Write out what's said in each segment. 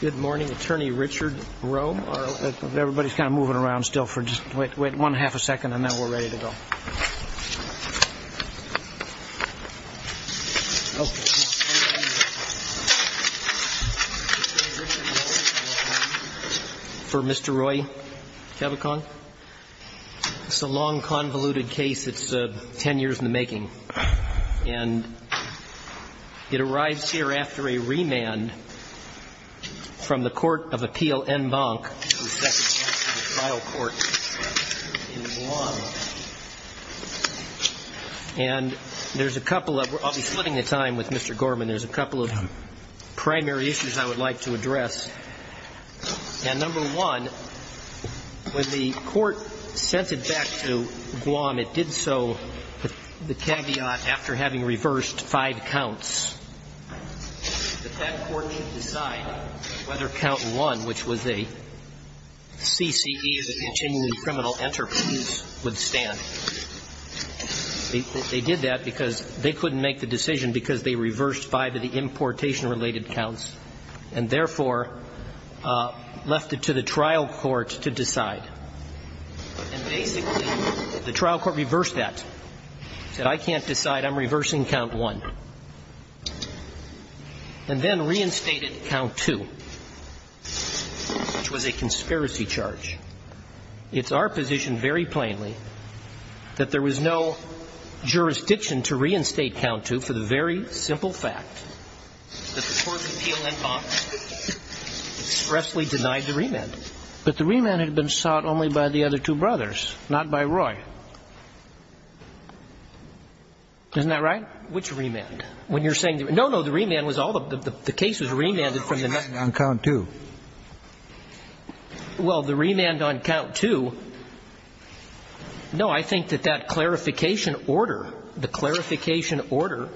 Good morning, Attorney Richard Rowe. Everybody's kind of moving around still. Wait one half a second on that. We're ready to go. Okay. For Mr. Roy Cabaccang, it's a long convoluted case. It's ten years in the making. And it arrives here after a remand from the court of appeal en banc in Guam. And there's a couple of, I'll be splitting the time with Mr. Gorman, there's a couple of primary issues I would like to address. And number one, when the court sent it back to Guam, it did so with the caveat after having reversed five counts that that court didn't decide whether count one, which was a CCE, the continuing criminal enterprise, would stand. They did that because they couldn't make the decision because they reversed five of the importation-related counts, and therefore left it to the trial court to decide. And basically, the trial court reversed that, said I can't decide, I'm reversing count one, and then reinstated count two, which was a conspiracy charge. It's our position very plainly that there was no jurisdiction to reinstate count two for the very simple fact that the court of appeal en banc expressly denied the remand. But the remand had been sought only by the other two brothers, not by Roy. Isn't that right? Which remand? When you're saying the remand? No, no, the remand was all of them. The case was remanded from the next one. On count two. Well, the remand on count two, no, I think that that clarification order, the clarification order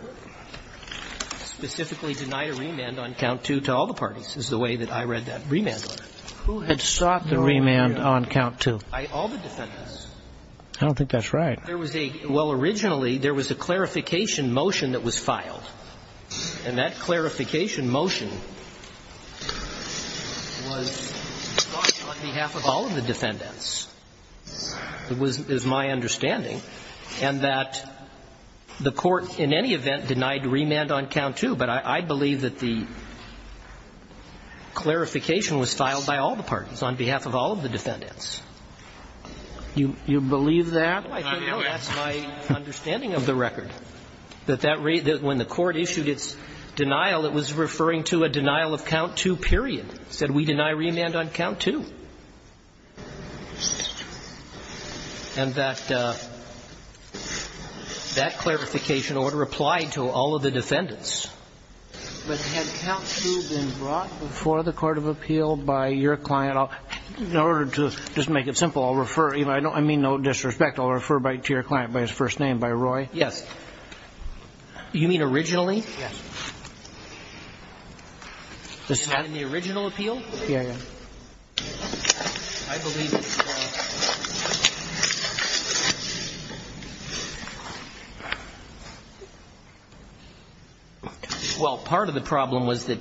specifically denied a remand on count two to all the parties is the way that I read that remand order. Who had sought the remand on count two? All the defendants. I don't think that's right. There was a – well, originally, there was a clarification motion that was filed. And that clarification motion was sought on behalf of all of the defendants, is my understanding, and that the court in any event denied remand on count two. But I believe that the clarification was filed by all the parties, on behalf of all of the defendants. You believe that? No, I don't know. That's my understanding of the record, that that – when the court issued its denial, it was referring to a denial of count two, period. It said we deny remand on count two. And that – that clarification order applied to all of the defendants. But had count two been brought before the court of appeal by your client? In order to just make it simple, I'll refer – I mean no disrespect, I'll refer to your client by his first name, by Roy. Yes. You mean originally? Yes. Was that in the original appeal? Yes. I believe that – well, part of the problem was that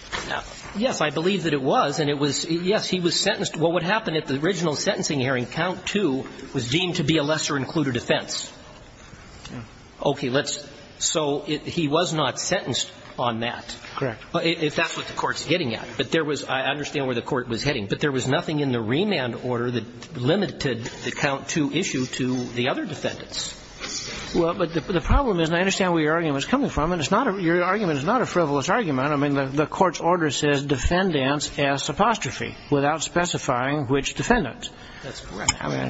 – yes, I believe that it was, and it was – yes, he was sentenced – well, what happened at the original sentencing hearing, count two was deemed to be a lesser-included offense. Okay, let's – so he was not sentenced on that. Correct. If that's what the court's getting at. But there was – I understand where the court was heading. But there was nothing in the remand order that limited the count two issue to the other defendants. Well, but the problem is, and I understand where your argument's coming from, and it's not a – your argument is not a frivolous argument. I mean, the court's order says without specifying which defendant. That's correct. I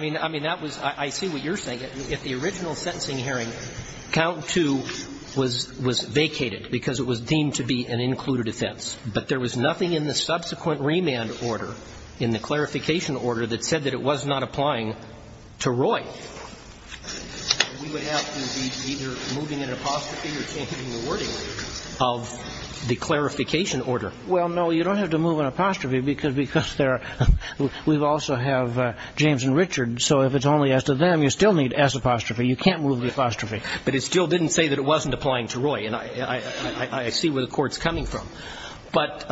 mean – I mean, that was – I see what you're saying. If the original sentencing hearing, count two was vacated because it was deemed to be an included offense. But there was nothing in the subsequent remand order, in the clarification order, that said that it was not applying to Roy. We would have to be either moving an apostrophe or changing the wording of the clarification order. Well, no, you don't have to move an apostrophe because there are – we also have James and Richard. So if it's only as to them, you still need S apostrophe. You can't move the apostrophe. But it still didn't say that it wasn't applying to Roy. And I see where the court's coming from. But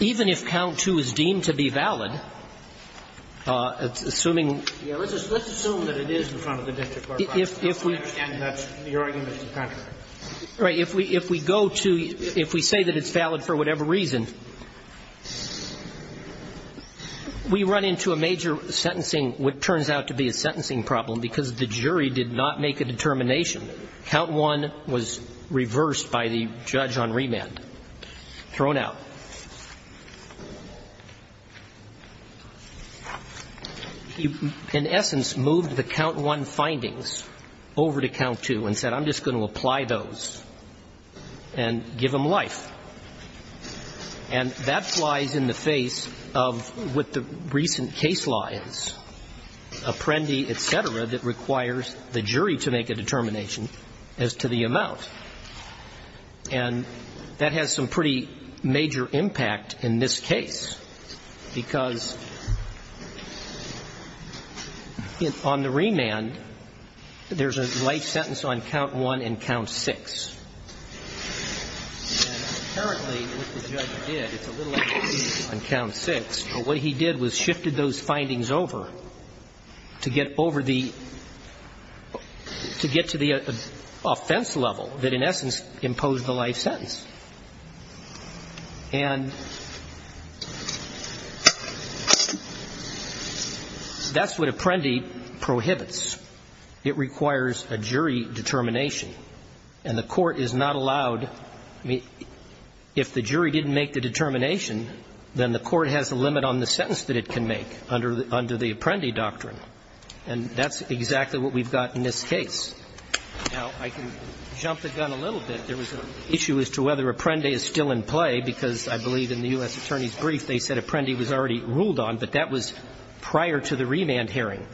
even if count two is deemed to be valid, assuming — Yeah, let's assume that it is in front of the district court. I understand that's your argument, Mr. Connery. Right. If we go to – if we say that it's valid for whatever reason, we run into a major sentencing, what turns out to be a sentencing problem, because the jury did not make a determination. Count one was reversed by the judge on remand, thrown out. He, in essence, moved the count one findings over to count two and said, I'm just going to apply those and give them life. And that flies in the face of what the recent case law is, Apprendi, et cetera, that requires the jury to make a determination as to the amount. And that has some pretty major impact in this case, because on the other hand, the judge did not make a determination on count six. And apparently what the judge did, it's a little bit on count six, but what he did was shifted those findings over to get over the – to get to the offense level that, in essence, imposed the life sentence. And that's what Apprendi prohibits. It requires a jury determination. And the Court is not allowed – I mean, if the jury didn't make the determination, then the Court has a limit on the sentence that it can make under the Apprendi doctrine. And that's exactly what we've got in this case. Now, I can jump the gun a little bit. There was an issue as to whether Apprendi is still in play, because I believe in the U.S. Attorney's brief they said prior to the remand hearing.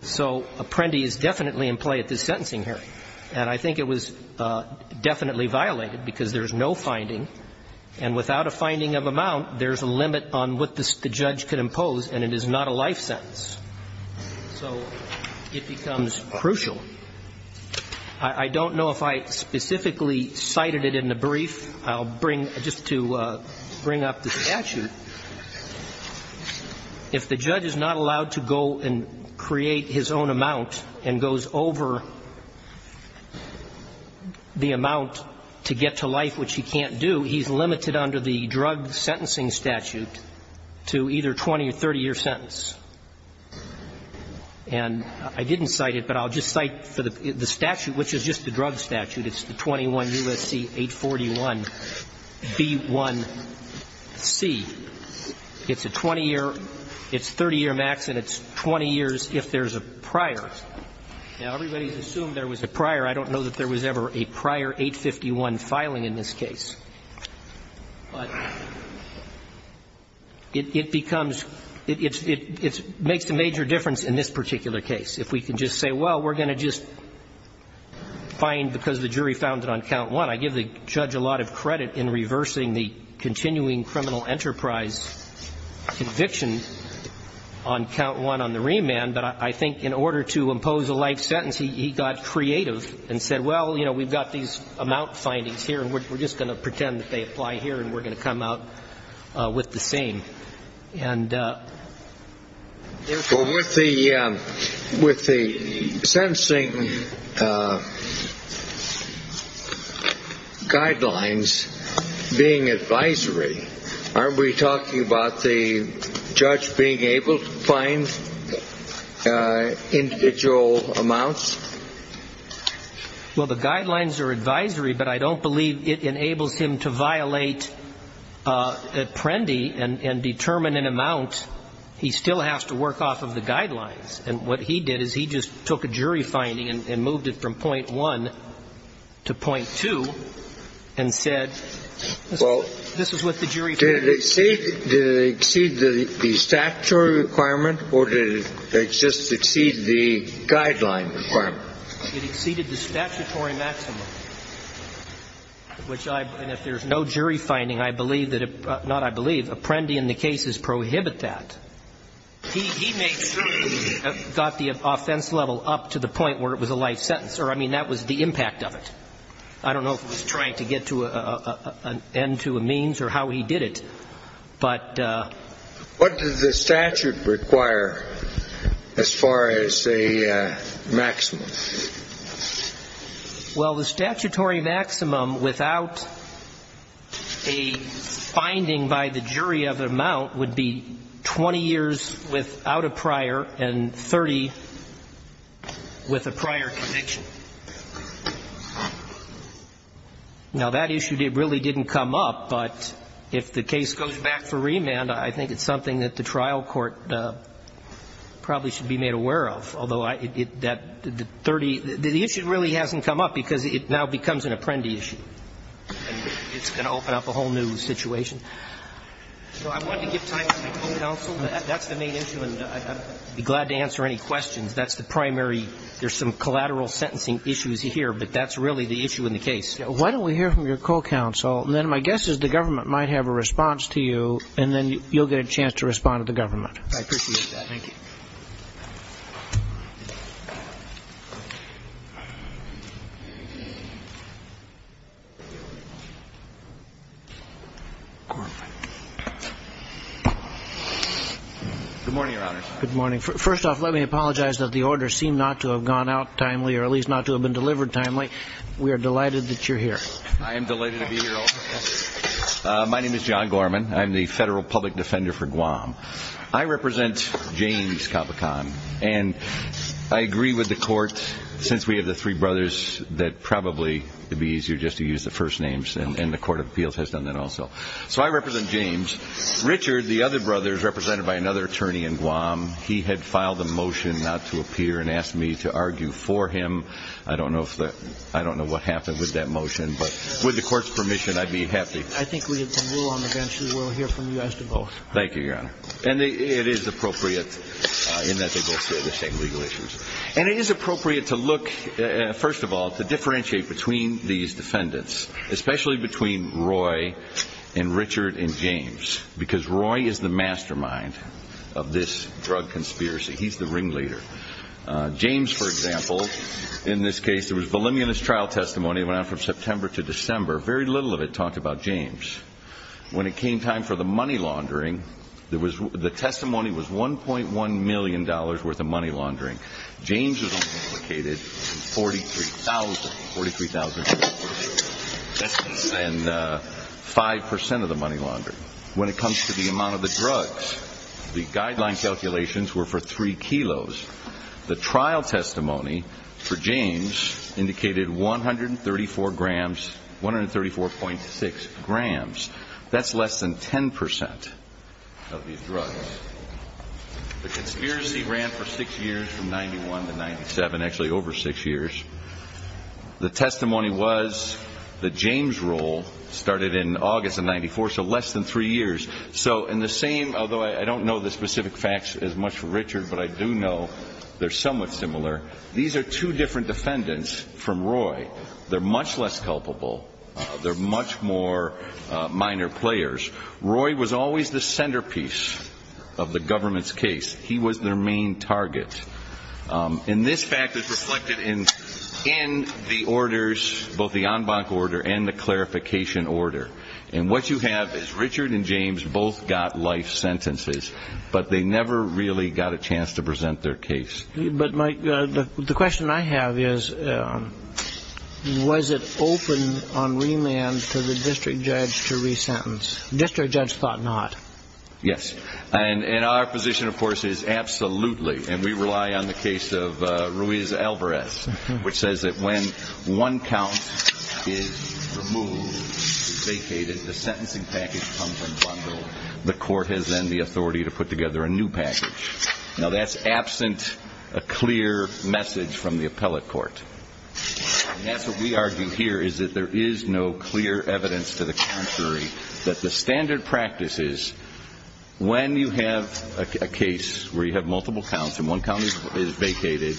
So Apprendi is definitely in play at this sentencing hearing. And I think it was definitely violated, because there's no finding. And without a finding of amount, there's a limit on what the judge could impose, and it is not a life sentence. So it becomes crucial. I don't know if I specifically cited it in the brief. I'll bring – just to bring up the statute, if the judge is not allowed to go and create his own amount and goes over the amount to get to life, which he can't do, he's limited under the drug sentencing statute to either a 20- or 30-year sentence. And I didn't cite it, but I'll just cite for the statute, which is just the drug statute. It's the 21 U.S.C. 841B1C. It's a 20-year – it's 30-year max, and it's 20 years if there's a prior. Now, everybody has assumed there was a prior. I don't know that there was ever a prior 851 filing in this case. But it becomes – it makes a major difference in this particular case. If we can just say, well, we're going to just find, because the jury found it on count one. I give the judge a lot of credit in reversing the continuing criminal enterprise conviction on count one on the remand. But I think in order to impose a life sentence, he got creative and said, well, you know, we've got these amount findings here, and we're just going to pretend that they apply here, and we're going to come out with the same. And therefore – Guidelines being advisory, aren't we talking about the judge being able to find individual amounts? Well, the guidelines are advisory, but I don't believe it enables him to violate Prendy and determine an amount. He still has to work off of the guidelines. And what he did is he just took a jury finding and moved it from point one to point two and said, this is what the jury found. Did it exceed the statutory requirement, or did it just exceed the guideline requirement? It exceeded the statutory maximum, which I – and if there's no jury finding, I believe that – not I believe. Prendy and the cases prohibit that. He may certainly have got the offense level up to the point where it was a life sentence, or, I mean, that was the impact of it. I don't know if he was trying to get to an end to a means or how he did it. But – What does the statute require as far as a maximum? Well, the statutory maximum without a finding by the jury of an amount would be 20 years without a prior and 30 with a prior conviction. Now, that issue really didn't come up, but if the case goes back for remand, I think it's something that the trial court probably should be made aware of, although that 30 – the issue really hasn't come up because it now becomes an Apprendi issue, and it's going to open up a whole new situation. So I wanted to give time to my co-counsel. That's the main issue, and I'd be glad to answer any questions. That's the primary – there's some collateral sentencing issues here, but that's really the issue in the case. Why don't we hear from your co-counsel, and then my guess is the government might have a response to you, and then you'll get a chance to respond to the government. I appreciate that. Thank you. Good morning, Your Honors. Good morning. First off, let me apologize that the order seemed not to have gone out very timely. We are delighted that you're here. I am delighted to be here, Your Honor. My name is John Gorman. I'm the Federal Public Defender for Guam. I represent James Capucon, and I agree with the Court, since we have the three brothers, that probably it would be easier just to use the first names, and the Court of Appeals has done that also. So I represent James. Richard, the other brother, is represented by another attorney in Guam. He had filed a motion not to appear and asked me to argue for him. I don't know what happened with that motion, but with the Court's permission, I'd be happy. I think we can rule on the bench, and we'll hear from you as to both. Thank you, Your Honor. And it is appropriate in that they both share the same legal issues. And it is appropriate to look, first of all, to differentiate between these defendants, especially between Roy and Richard and James, because Roy is the mastermind of this drug conspiracy. He's the ringleader. James, for example, in this case, there was voluminous trial testimony that went on from September to December. Very little of it talked about James. When it came time for the money laundering, the testimony was $1.1 million worth of money laundering. James was only implicated in $43,000. That's less than 5 percent of the money laundering. When it comes to the amount of the drugs, the guideline calculations were for 3 kilos. The trial testimony for James indicated 134 grams, 134.6 grams. That's less than 10 percent of these drugs. The conspiracy ran for six years, from 91 to 97, actually over six years. The testimony was that James' role started in August of 94, so less than three years. So in the same, although I don't know the specific facts as much for Richard, but I do know they're somewhat similar. These are two different defendants from Roy. They're much less culpable. They're much more minor players. Roy was always the centerpiece of the government's case. He was their main target. And this fact is reflected in the orders, both the en banc order and the clarification order. And what you have is Richard and James both got life sentences, but they never really got a chance to present their case. But the question I have is, was it open on remand to the district judge to resentence? District judge thought not. Yes. And our position, of course, is absolutely, and we rely on the case of Ruiz-Alvarez, which says that when one count is removed, vacated, the sentencing package comes in bundle. The court has then the authority to put together a new package. Now that's absent a clear message from the appellate court. And that's what we argue here, is that there is no clear evidence to the contrary, that the standard practice is when you have a case where you have multiple counts and one count is vacated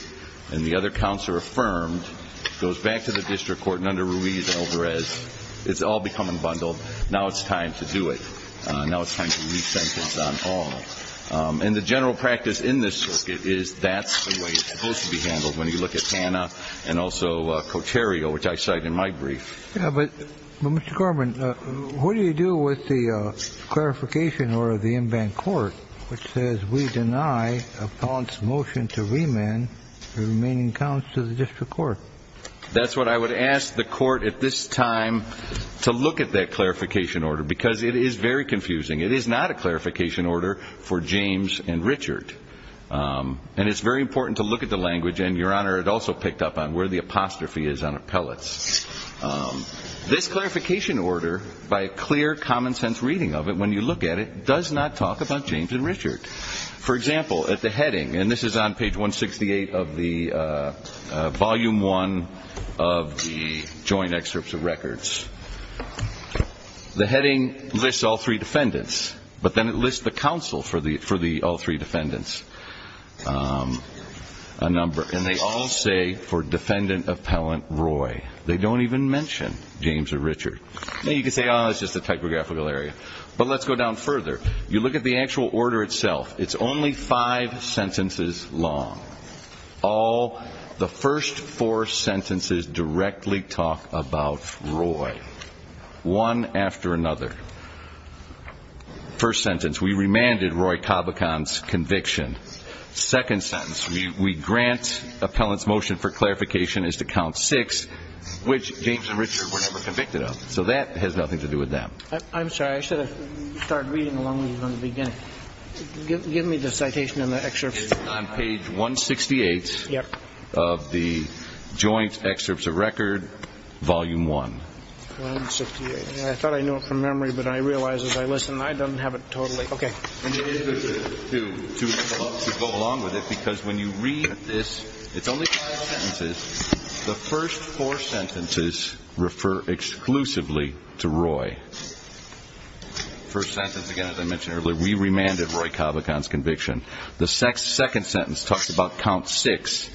and the other counts are affirmed, it goes back to the district court and under Ruiz-Alvarez, it's all becoming bundled. Now it's time to do it. Now it's time to resentence on all. And the general practice in this circuit is that's the way it's supposed to be handled when you look at Tanna and also Coterio, which I cite in my brief. Yeah, but Mr. Corbin, what do you do with the clarification order of the in-bank court, which says we deny appellant's motion to remand the remaining counts to the district court? That's what I would ask the court at this time to look at that clarification order, because it is very confusing. It is not a clarification order for James and Richard. And it's very important to look at the language, and, Your Honor, it also picked up on where the apostrophe is on appellants. This clarification order, by a clear, common-sense reading of it, when you look at it, does not talk about James and Richard. For example, at the heading, and this is on page 168 of the Volume I of the Joint Excerpts of Records, the heading lists all three defendants, but then it lists the counsel for all three defendants. And they all say for defendant appellant Roy. They don't even mention James or Richard. You can say, oh, it's just a typographical area. But let's go down further. You look at the actual order itself. It's only five sentences long. All the first four sentences directly talk about Roy, one after another. First sentence, we remanded Roy Cobicon's conviction. Second sentence, we grant appellant's motion for clarification is to count six, which James and Richard were never convicted of. So that has nothing to do with them. I'm sorry. I should have started reading along with you from the beginning. Give me the citation on the excerpt. It's on page 168 of the Joint Excerpts of Records, Volume I. I thought I knew it from memory, but I realize as I listen, I don't have it totally. OK. And it is good to go along with it because when you read this, it's only five sentences. The first four sentences refer exclusively to Roy. First sentence, again, as I mentioned earlier, we remanded Roy Cobicon's conviction. The second sentence talks about count six,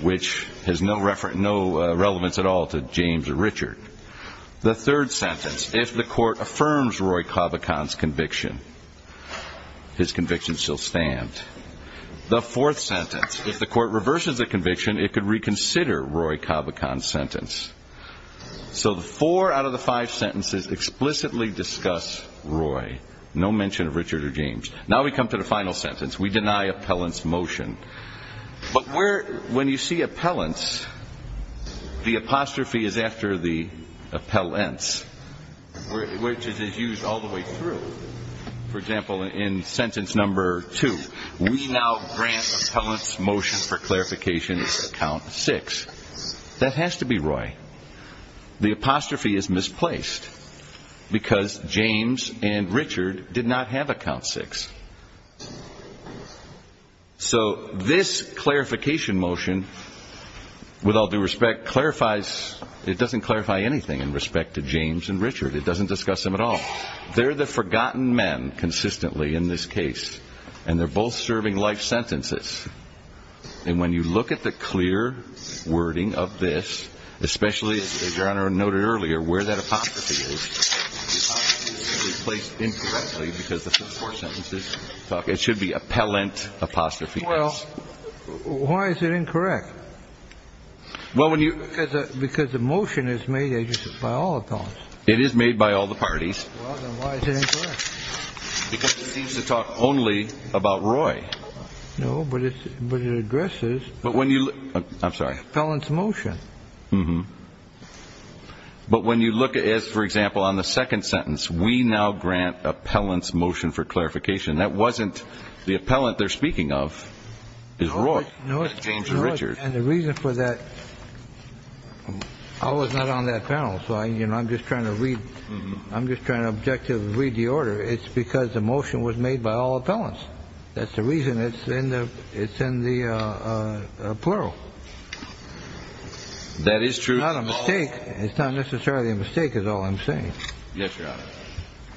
which has no relevance at all to James or Richard. The third sentence, if the court affirms Roy Cobicon's conviction, his conviction shall stand. The fourth sentence, if the court reverses the conviction, it could reconsider Roy Cobicon's sentence. So the four out of the five sentences explicitly discuss Roy. No mention of Richard or James. Now we come to the final sentence. We deny appellant's motion. But when you see appellants, the apostrophe is after the appellants, which is used all the way through. For example, in sentence number two, we now grant appellant's motion for clarification is count six. That has to be Roy. The apostrophe is misplaced because James and Richard did not have a count six. So this clarification motion, with all due respect, clarifies. It doesn't clarify anything in respect to James and Richard. It doesn't discuss them at all. They're the forgotten men consistently in this case, and they're both serving life sentences. And when you look at the clear wording of this, especially, as Your Honor noted earlier, where that apostrophe is, the apostrophe is misplaced incorrectly because the first four sentences talk. It should be appellant apostrophe. Well, why is it incorrect? Because the motion is made by all appellants. It is made by all the parties. Well, then why is it incorrect? Because it seems to talk only about Roy. No, but it addresses appellant's motion. But when you look at it, for example, on the second sentence, we now grant appellant's motion for clarification. That wasn't the appellant they're speaking of. No, it's not. It's James and Richard. And the reason for that, I was not on that panel, so I'm just trying to read. I'm just trying to objectively read the order. It's because the motion was made by all appellants. That's the reason it's in the plural. That is true. It's not a mistake. It's not necessarily a mistake is all I'm saying. Yes, Your Honor.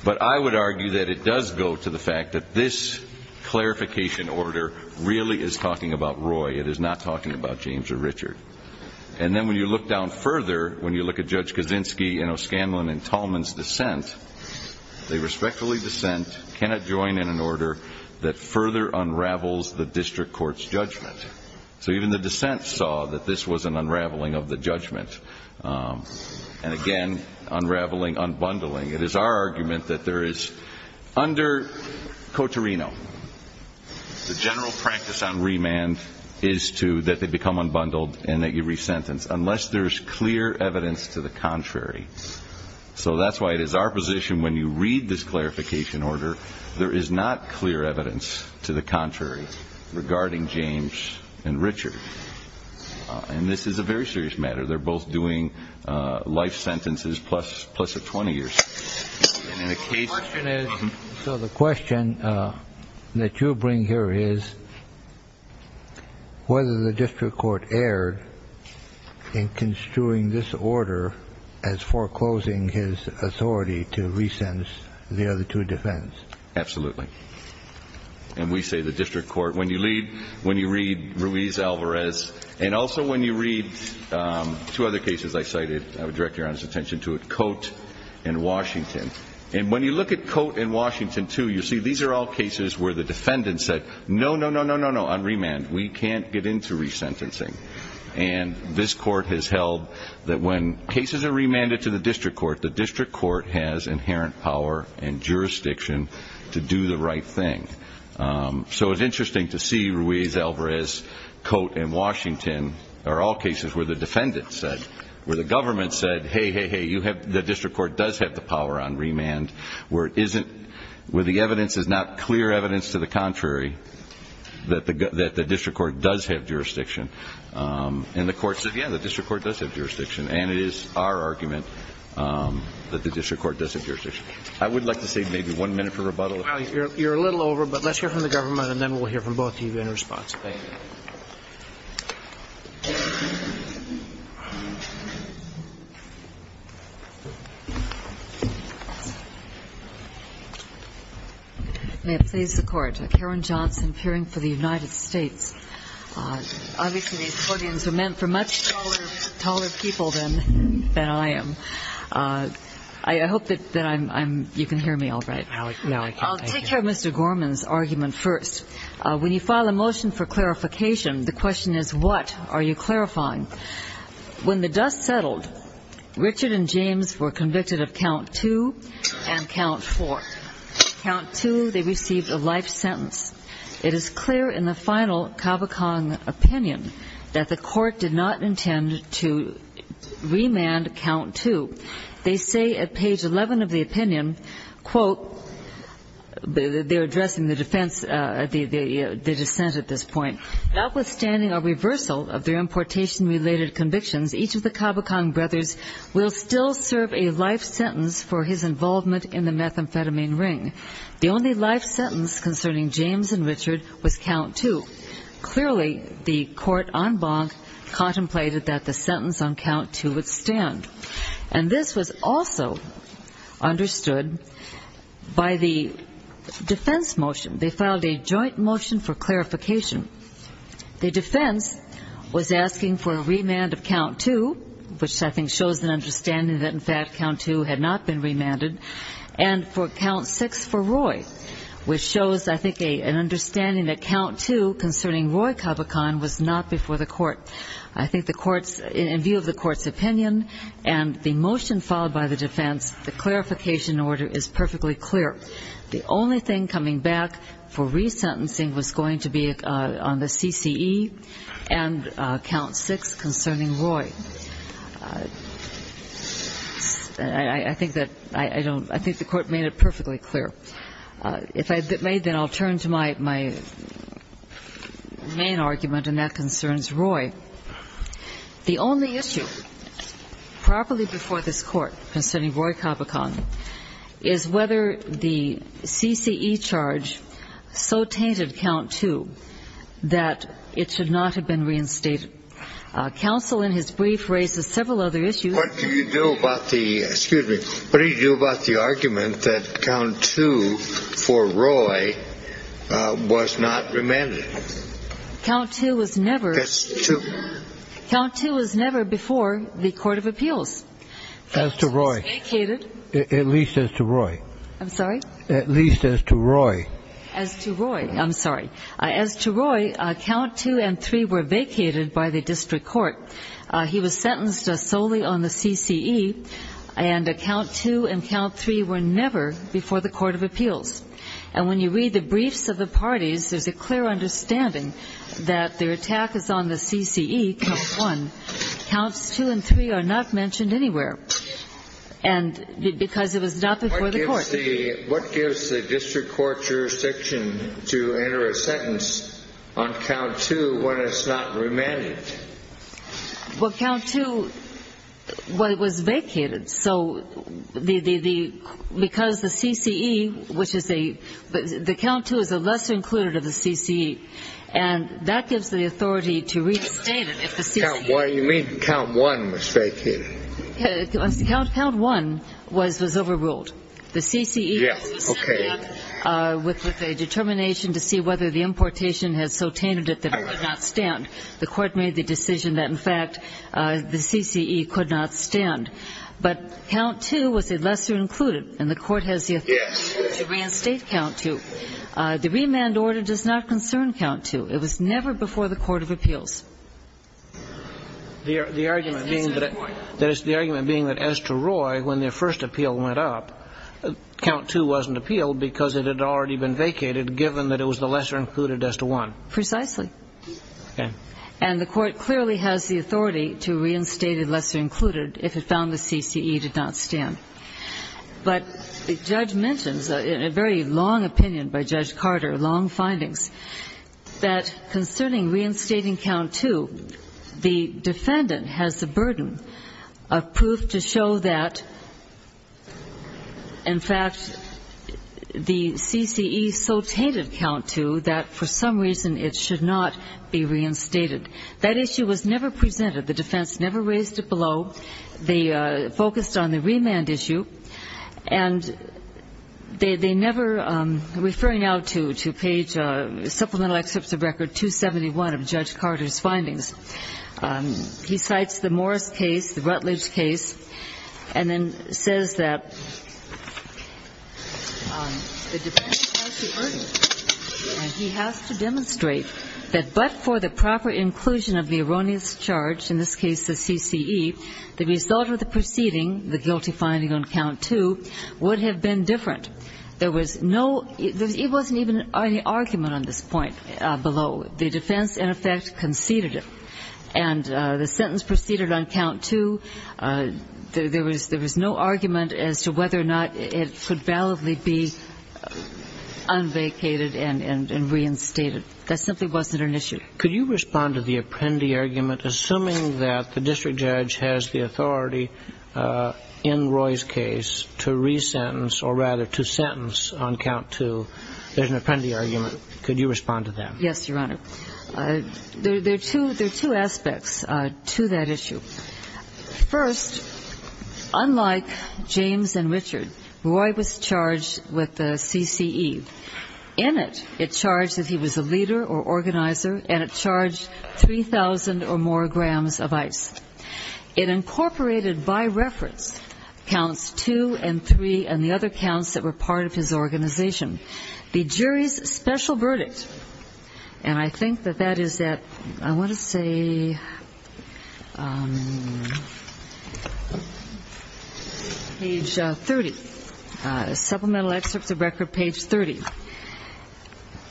But I would argue that it does go to the fact that this clarification order really is talking about Roy. It is not talking about James or Richard. And then when you look down further, when you look at Judge Kaczynski and O'Scanlan and Tallman's dissent, they respectfully dissent, cannot join in an order that further unravels the district court's judgment. So even the dissent saw that this was an unraveling of the judgment. And, again, unraveling, unbundling. It is our argument that there is, under Cotarino, the general practice on remand is that they become unbundled and that you resentence, unless there is clear evidence to the contrary. So that's why it is our position, when you read this clarification order, there is not clear evidence to the contrary regarding James and Richard. And this is a very serious matter. They're both doing life sentences plus a 20-year sentence. So the question that you bring here is whether the district court erred in construing this order as foreclosing his authority to resentence the other two defends. Absolutely. And we say the district court, when you read Ruiz-Alvarez and also when you read two other cases I cited, I would direct your attention to it, Cote and Washington. And when you look at Cote and Washington, too, you see these are all cases where the defendant said, no, no, no, no, no, no, unremand. We can't get into resentencing. And this court has held that when cases are remanded to the district court, the district court has inherent power and jurisdiction to do the right thing. So it's interesting to see Ruiz-Alvarez, Cote, and Washington are all cases where the defendant said, where the government said, hey, hey, hey, the district court does have the power on remand, where the evidence is not clear evidence to the contrary, that the district court does have jurisdiction. And the court said, yeah, the district court does have jurisdiction. And it is our argument that the district court does have jurisdiction. I would like to save maybe one minute for rebuttal. You're a little over, but let's hear from the government, and then we'll hear from both of you in response. Ms. Spadafore. May it please the Court. Karen Johnson, appearing for the United States. Obviously, these podiums are meant for much taller people than I am. I hope that I'm you can hear me all right. No, I can't. I'll take care of Mr. Gorman's argument first. When you file a motion for clarification, the question is, what are you clarifying? When the dust settled, Richard and James were convicted of count two and count four. Count two, they received a life sentence. It is clear in the final Cavachon opinion that the court did not intend to remand count two. They say at page 11 of the opinion, quote, they're addressing the defense, the dissent at this point. Notwithstanding a reversal of their importation-related convictions, each of the Cavachon brothers will still serve a life sentence for his involvement in the methamphetamine ring. The only life sentence concerning James and Richard was count two. Clearly, the court en banc contemplated that the sentence on count two would stand. And this was also understood by the defense motion. They filed a joint motion for clarification. The defense was asking for a remand of count two, which I think shows an understanding that, in fact, count two had not been remanded, and for count six for Roy, which shows, I think, an understanding that count two concerning Roy Cavachon was not before the court. I think the court's, in view of the court's opinion and the motion filed by the defense, the clarification order is perfectly clear. The only thing coming back for resentencing was going to be on the CCE and count six concerning Roy. I think that, I don't, I think the court made it perfectly clear. If I may, then I'll turn to my main argument, and that concerns Roy. The only issue properly before this court concerning Roy Cavachon is whether the CCE charge so tainted count two that it should not have been reinstated. Counsel, in his brief, raises several other issues. What do you do about the, excuse me, what do you do about the argument that count two for Roy was not remanded? Count two was never. That's two. Count two was never before the court of appeals. As to Roy. Count two was vacated. At least as to Roy. I'm sorry? At least as to Roy. As to Roy. I'm sorry. As to Roy, count two and three were vacated by the district court. He was sentenced solely on the CCE, and count two and count three were never before the court of appeals. And when you read the briefs of the parties, there's a clear understanding that their attack is on the CCE, count one. Counts two and three are not mentioned anywhere. And because it was not before the court. What gives the district court jurisdiction to enter a sentence on count two when it's not remanded? Well, count two was vacated, so because the CCE, which is a, the count two is a lesser included of the CCE, and that gives the authority to reinstate it if the CCE. You mean count one was vacated. Count one was overruled. The CCE was sentenced with a determination to see whether the importation had so tainted it that it could not stand. The court made the decision that, in fact, the CCE could not stand. But count two was a lesser included, and the court has the authority to reinstate count two. The remand order does not concern count two. It was never before the court of appeals. The argument being that as to Roy, when their first appeal went up, count two wasn't appealed because it had already been vacated, given that it was the lesser included as to one. Precisely. Okay. And the court clearly has the authority to reinstate a lesser included if it found the CCE did not stand. But the judge mentions in a very long opinion by Judge Carter, long findings, that concerning reinstating count two, the defendant has the burden of proof to show that, in fact, the CCE so tainted count two that for some reason it should not be reinstated. That issue was never presented. The defense never raised it below. They focused on the remand issue. And they never, referring now to page supplemental excerpts of record 271 of Judge Carter's findings, he cites the Morris case, the Rutledge case, and then says that the defendant has the burden, and he has to demonstrate that but for the proper inclusion of the erroneous charge, in this case the CCE, the result of the proceeding, the guilty finding on count two, would have been different. There was no, there wasn't even any argument on this point below. The defense, in effect, conceded it. And the sentence proceeded on count two. There was no argument as to whether or not it could validly be unvacated and reinstated. That simply wasn't an issue. Could you respond to the Apprendi argument, assuming that the district judge has the authority in Roy's case to resentence or rather to sentence on count two? There's an Apprendi argument. Could you respond to that? Yes, Your Honor. There are two aspects to that issue. First, unlike James and Richard, Roy was charged with the CCE. In it, it charged that he was a leader or organizer, and it charged 3,000 or more grams of ice. It incorporated by reference counts two and three and the other counts that were part of his organization. The jury's special verdict, and I think that that is at, I want to say, page 30, supplemental excerpts of record page 30,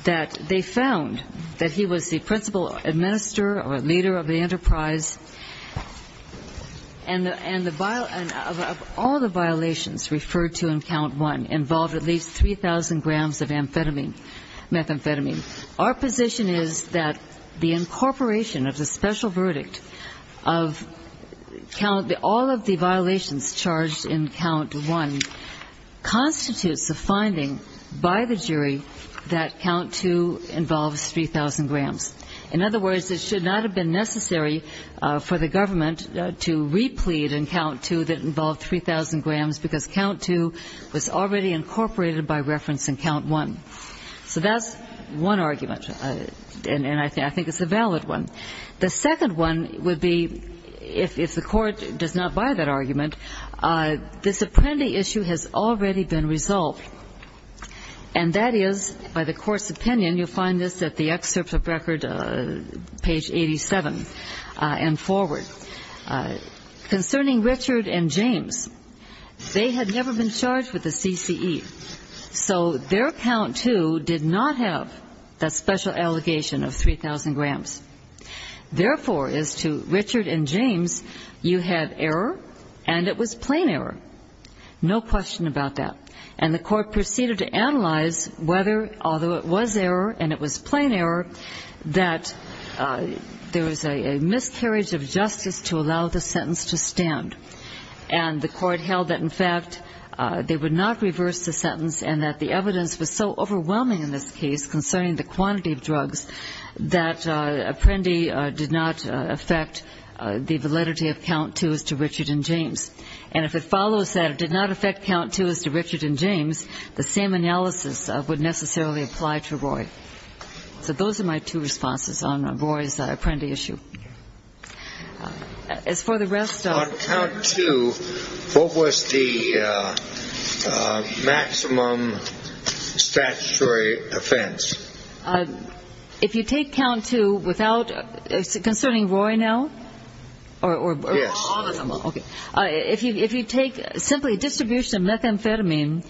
that they found that he was the principal administrator or leader of the enterprise, and all the violations referred to in count one involved at least 3,000 grams of amphetamine, methamphetamine. Our position is that the incorporation of the special verdict of all of the violations charged in count one constitutes a finding by the jury that count two involves 3,000 grams. In other words, it should not have been necessary for the government to replete in count two that involved 3,000 grams, because count two was already incorporated by reference in count one. So that's one argument, and I think it's a valid one. The second one would be, if the Court does not buy that argument, this Apprendi issue has already been resolved, and that is, by the Court's opinion, you'll find this at the excerpts of record page 87 and forward. Concerning Richard and James, they had never been charged with the CCE, so their count two did not have that special allegation of 3,000 grams. Therefore, as to Richard and James, you had error, and it was plain error. No question about that. And the Court proceeded to analyze whether, although it was error and it was plain error, that there was a miscarriage of justice to allow the sentence to stand. And the Court held that, in fact, they would not reverse the sentence, and that the evidence was so overwhelming in this case concerning the quantity of drugs, that Apprendi did not affect the validity of count two as to Richard and James. And if it follows that it did not affect count two as to Richard and James, the same analysis would necessarily apply to Roy. So those are my two responses on Roy's Apprendi issue. As for the rest of it. If you take count two, what was the maximum statutory offense? If you take count two without, concerning Roy now? Yes. If you take simply distribution of methamphetamine,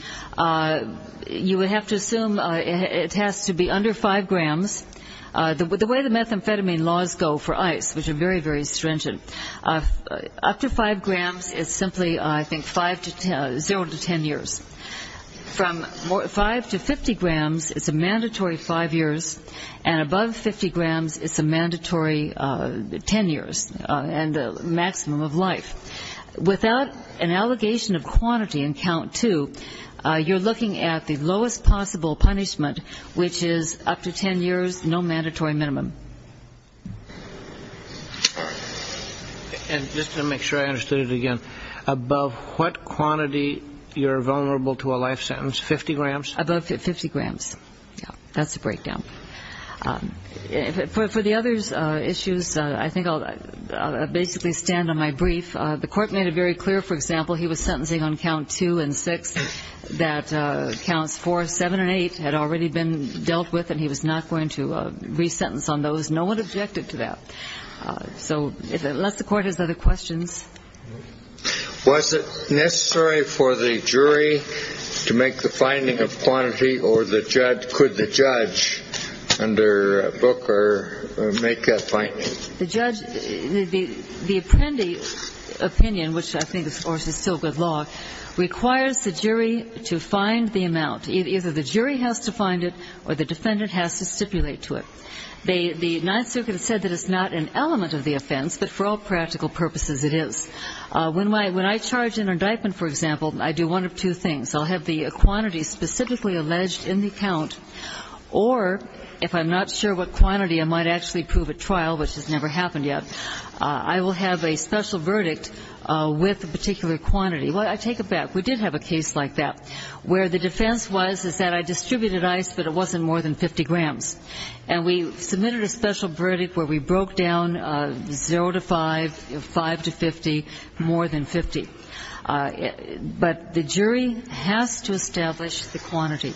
you would have to assume it has to be under five grams. The way the methamphetamine laws go for ice, which are very, very stringent, up to five grams is simply, I think, zero to ten years. From five to 50 grams, it's a mandatory five years, and above 50 grams, it's a mandatory ten years, and the maximum of life. Without an allegation of quantity in count two, you're looking at the lowest possible punishment, which is up to ten years, zero to ten years. No mandatory minimum. And just to make sure I understood it again, above what quantity you're vulnerable to a life sentence? 50 grams? Above 50 grams. Yeah. That's the breakdown. For the other issues, I think I'll basically stand on my brief. The court made it very clear, for example, he was sentencing on count two and six, that counts four, seven, and eight had already been dealt with, and he was not going to do that. He was going to re-sentence on those. No one objected to that. So unless the court has other questions. Was it necessary for the jury to make the finding of quantity, or could the judge under Booker make that finding? The judge, the apprendi opinion, which I think, of course, is still good law, requires the jury to find the amount. Either the jury has to find it, or the defendant has to stipulate to it. The Ninth Circuit has said that it's not an element of the offense, but for all practical purposes, it is. When I charge an indictment, for example, I do one of two things. I'll have the quantity specifically alleged in the count, or, if I'm not sure what quantity, I might actually prove at trial, which has never happened yet. I will have a special verdict with a particular quantity. Well, I take it back. We did have a case like that, where the defense was, is that I distributed ice, but it wasn't more than 50 grams. And we submitted a special verdict where we broke down 0 to 5, 5 to 50, more than 50. But the jury has to establish the quantity.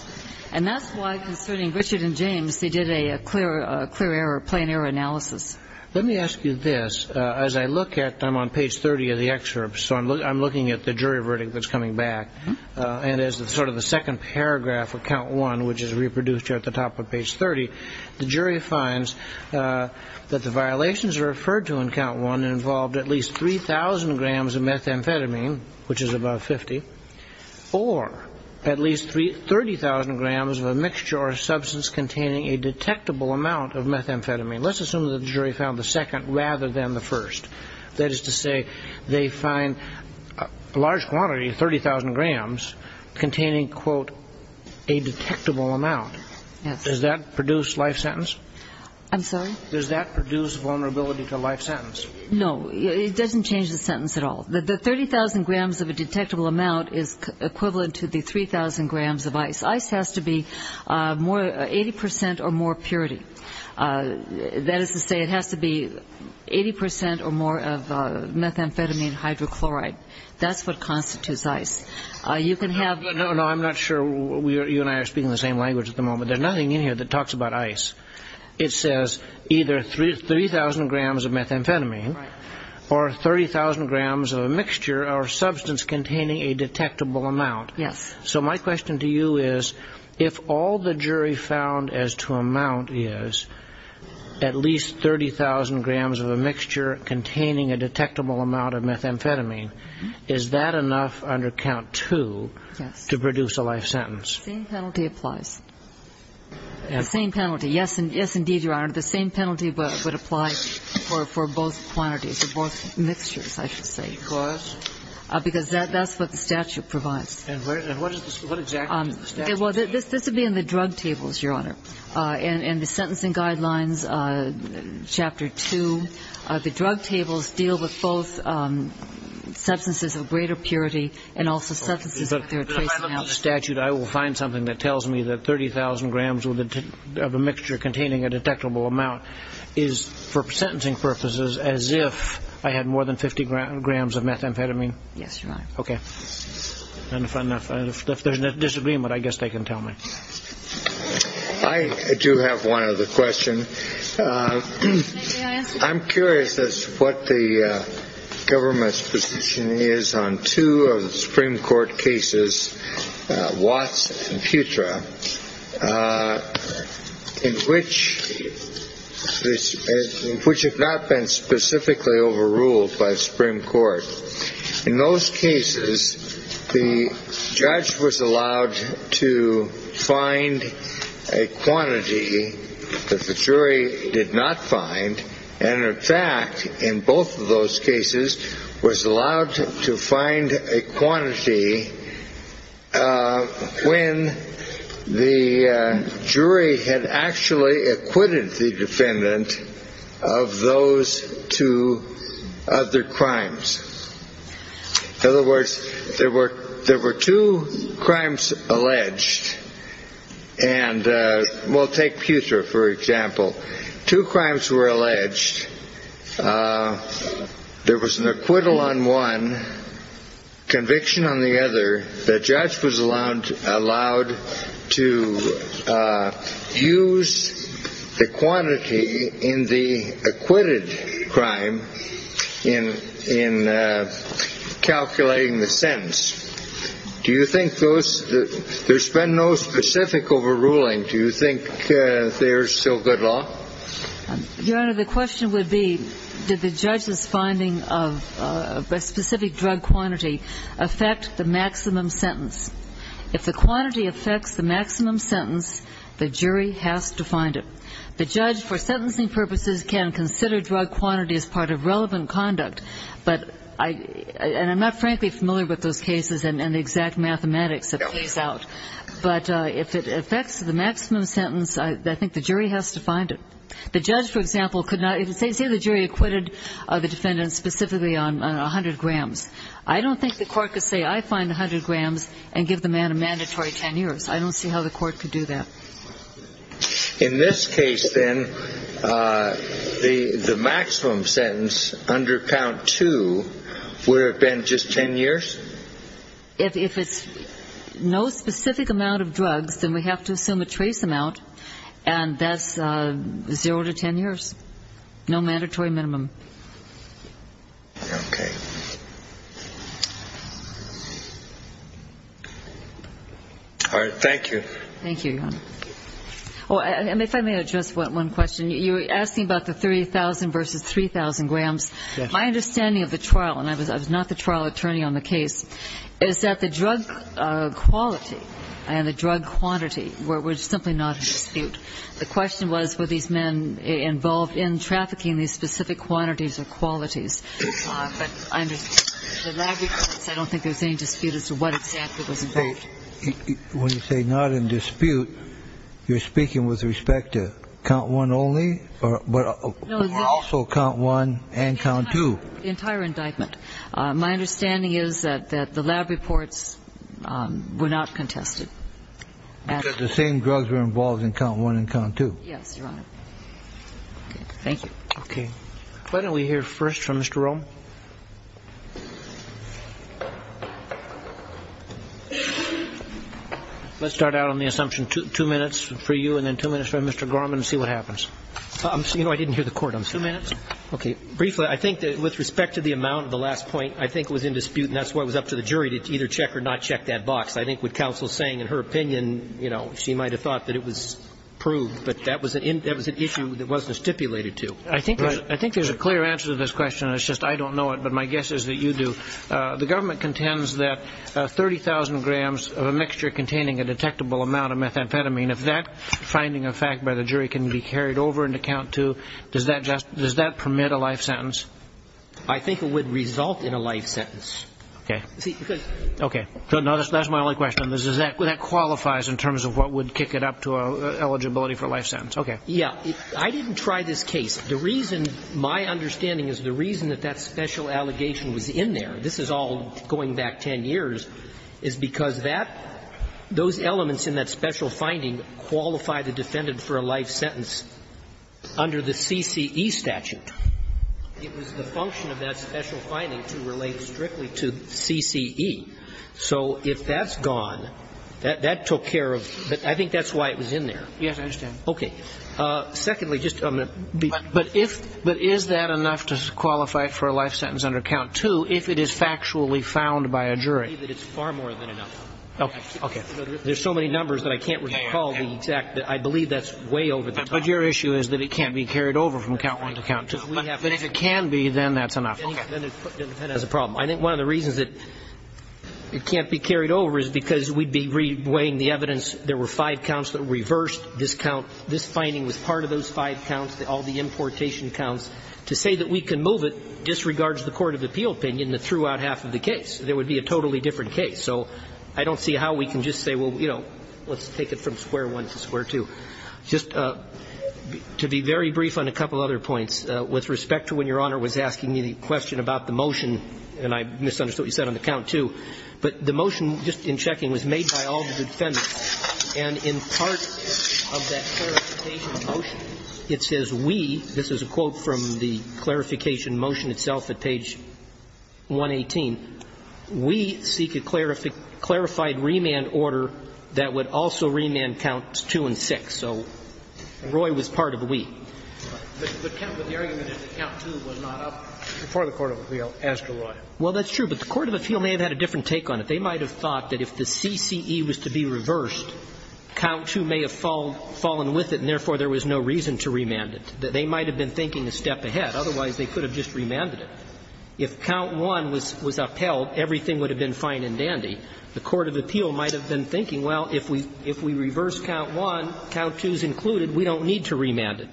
And that's why, concerning Richard and James, they did a clear error, plain error analysis. Let me ask you this. As I look at, I'm on page 30 of the excerpt, so I'm looking at the jury verdict that's coming back. And as sort of the second paragraph of count one, which is reproduced here at the top of page 30, the jury has to establish the quantity. And the jury finds that the violations referred to in count one involved at least 3,000 grams of methamphetamine, which is above 50, or at least 30,000 grams of a mixture or a substance containing a detectable amount of methamphetamine. Let's assume that the jury found the second rather than the first. That is to say, they find a large quantity, 30,000 grams, containing, quote, a detectable amount. Does that produce life sentence? No, it doesn't change the sentence at all. The 30,000 grams of a detectable amount is equivalent to the 3,000 grams of ice. Ice has to be 80% or more purity. That is to say, it has to be 80% or more of methamphetamine hydrochloride. That's what constitutes ice. No, I'm not sure you and I are speaking the same language at the moment. There's nothing in here that talks about ice. It says either 3,000 grams of methamphetamine or 30,000 grams of a mixture or substance containing a detectable amount. Yes. So my question to you is, if all the jury found as to amount is at least 30,000 grams of a mixture containing a detectable amount of methamphetamine, is that enough under count? Yes. And the same penalty applies. The same penalty. Yes, indeed, Your Honor. The same penalty would apply for both quantities, for both mixtures, I should say. Because? Because that's what the statute provides. And what exactly does the statute say? Well, this would be in the drug tables, Your Honor. And the sentencing guidelines, Chapter 2. The drug tables deal with both substances of greater purity and also substance. So the same penalty applies. Yes. But if I look at the statute, I will find something that tells me that 30,000 grams of a mixture containing a detectable amount is, for sentencing purposes, as if I had more than 50 grams of methamphetamine? Yes, Your Honor. Okay. And if there's a disagreement, I guess they can tell me. I do have one other question. I'm curious as to what the government's position is on two of the Supreme Court cases that have been brought before the Supreme Court. The Supreme Court cases, Watts and Putra, which have not been specifically overruled by the Supreme Court. In those cases, the judge was allowed to find a quantity that the jury did not find, and in fact, in both of those cases, was allowed to find a quantity when the jury had actually acquitted the defendant of those two other crimes. In other words, there were two crimes alleged. And we'll take Putra, for example. Two crimes were alleged. There was an acquittal on one, conviction on the other. The judge was allowed to use the quantity in the acquitted crime in calculating the sentence. Do you think those – there's been no specific overruling. Do you think there's still good law? Your Honor, the question would be, did the judge's finding of a specific drug quantity affect the maximum sentence? If the quantity affects the maximum sentence, the jury has to find it. The judge, for sentencing purposes, can consider drug quantity as part of relevant conduct. But I – and I'm not frankly familiar with those cases and the exact mathematics that plays out. But if it affects the maximum sentence, I think the jury has to find it. The judge, for example, could not – say the jury acquitted the defendant specifically on 100 grams. I don't think the court could say, I find 100 grams and give the man a mandatory 10 years. I don't see how the court could do that. In this case, then, the maximum sentence under count two would have been just 10 years? If it's no specific amount of drugs, then we have to assume a trace amount, and that's zero to 10 years. No mandatory minimum. Okay. All right. Thank you. Thank you, Your Honor. Oh, and if I may address one question. You were asking about the 3,000 versus 3,000 grams. Yes. My understanding of the trial, and I was not the trial attorney on the case, is that the drug quality and the drug quantity were simply not in dispute. The question was, were these men involved in trafficking these specific quantities or qualities? But I understand the lab reports, I don't think there's any dispute as to what exactly was involved. When you say not in dispute, you're speaking with respect to count one only, or also count one and count two? The entire indictment. My understanding is that the lab reports were not contested. Because the same drugs were involved in count one and count two? Yes, Your Honor. Thank you. Okay. Why don't we hear first from Mr. Rome? Let's start out on the assumption two minutes for you and then two minutes for Mr. Gorman and see what happens. You know, I didn't hear the court. Two minutes. Okay. Briefly, I think that with respect to the amount of the last point, I think it was in dispute, and that's why it was up to the jury to either check or not check that box. I think what counsel is saying in her opinion, you know, she might have thought that it was proved, but that was an issue that wasn't stipulated to. I think there's a clear answer to this question. It's just I don't know it, but my guess is that you do. The government contends that 30,000 grams of a mixture containing a detectable amount of methamphetamine, if that finding of fact by the jury can be carried over into count two, does that permit a life sentence? I think it would result in a life sentence. Okay. Okay. That's my only question. Does that qualify in terms of what would kick it up to eligibility for a life sentence? Okay. Yeah. I didn't try this case. The reason my understanding is the reason that that special allegation was in there, this is all going back 10 years, is because that, those elements in that special finding qualify the defendant for a life sentence under the CCE statute. It was the function of that special finding to relate strictly to CCE. So if that's gone, that took care of, I think that's why it was in there. Yes, I understand. Okay. Secondly, just, but if, but is that enough to qualify for a life sentence under count two if it is factually found by a jury? I believe that it's far more than enough. Okay. There's so many numbers that I can't recall the exact, I believe that's way over the top. But your issue is that it can't be carried over from count one to count two. But if it can be, then that's enough. Okay. Then it has a problem. I think one of the reasons that it can't be carried over is because we'd be re-weighing the evidence, there were five counts that were reversed. This count, this finding was part of those five counts, all the importation counts. To say that we can move it disregards the court of appeal opinion that threw out half of the case. There would be a totally different case. So I don't see how we can just say, well, you know, let's take it from square one to square two. Just to be very brief on a couple other points, with respect to when Your Honor was asking me the question about the motion, and I misunderstood what you said on the count two, but the motion just in checking was made by all the defendants. And in part of that clarification motion, it says we, this is a quote from the clarification motion itself at page 118, we seek a clarified remand order that would also remand counts two and six. So Roy was part of the we. But the argument is that count two was not up before the court of appeal as to Roy. Well, that's true. But the court of appeal may have had a different take on it. They might have thought that if the CCE was to be reversed, count two may have fallen with it and therefore there was no reason to remand it. They might have been thinking a step ahead. Otherwise, they could have just remanded it. If count one was upheld, everything would have been fine and dandy. The court of appeal might have been thinking, well, if we reverse count one, count two is included. We don't need to remand it.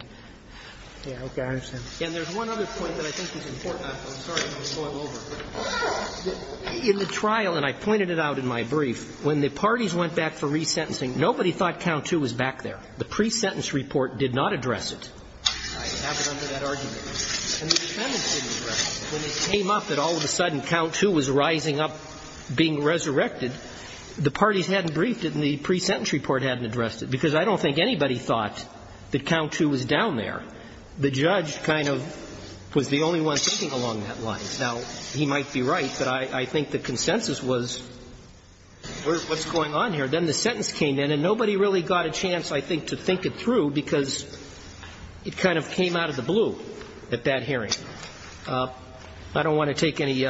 And there's one other point that I think is important. I'm sorry to spoil over. In the trial, and I pointed it out in my brief, when the parties went back for resentencing, nobody thought count two was back there. The pre-sentence report did not address it. I have it under that argument. And the defendants didn't address it. When it came up that all of a sudden count two was rising up, being resurrected, the parties hadn't briefed it and the pre-sentence report hadn't addressed it, because I don't think anybody thought that count two was down there. The judge kind of was the only one thinking along that line. Now, he might be right, but I think the consensus was, what's going on here? Then the sentence came in, and nobody really got a chance, I think, to think it through, because it kind of came out of the blue at that hearing. I don't want to take any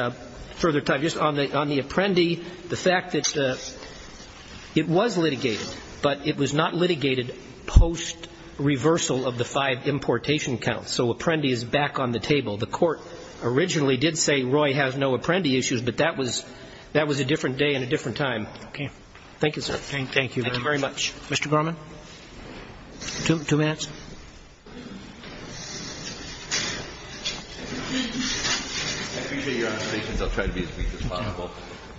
further time. Just on the Apprendi, the fact that it was litigated, but it was not litigated post-reversal of the five importation counts. So Apprendi is back on the table. The Court originally did say Roy has no Apprendi issues, but that was a different day and a different time. Thank you, sir. Thank you very much. Mr. Garmon. Two minutes. I appreciate Your Honor's patience. I'll try to be as brief as possible.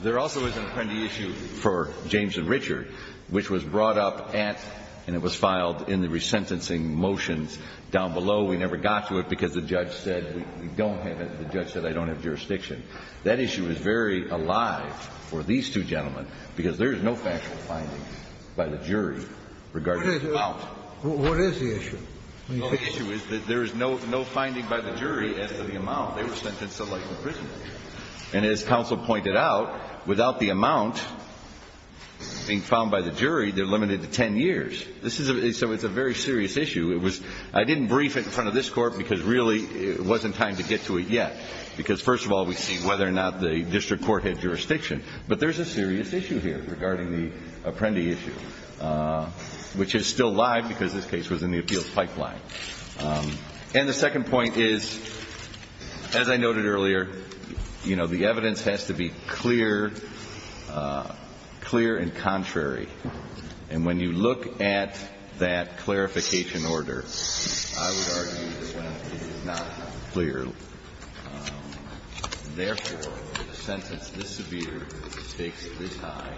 There also is an Apprendi issue for James and Richard, which was brought up at, and it was filed in the resentencing motions down below. We never got to it because the judge said we don't have it. The judge said I don't have jurisdiction. That issue is very alive for these two gentlemen, because there is no factual finding by the jury regarding the amount. What is the issue? The issue is that there is no finding by the jury as to the amount. They were sentenced to life in prison. And as counsel pointed out, without the amount being found by the jury, they're limited to 10 years. So it's a very serious issue. I didn't brief it in front of this Court because really it wasn't time to get to it yet. Because, first of all, we see whether or not the district court had jurisdiction. But there's a serious issue here regarding the Apprendi issue, which is still alive because this case was in the appeals pipeline. And the second point is, as I noted earlier, the evidence has to be clear and contrary. And when you look at that clarification order, I would argue this one is not clear. Therefore, the sentence this severe takes this high.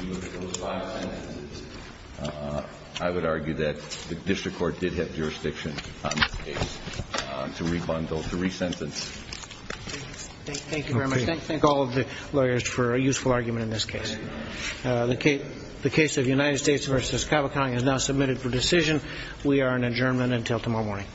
And those five sentences, I would argue that the district court did have jurisdiction on this case to rebundle, to resentence. Thank you very much. Thank all of the lawyers for a useful argument in this case. The case of United States v. Cavacon is now submitted for decision. We are in adjournment until tomorrow morning. This court is adjourned.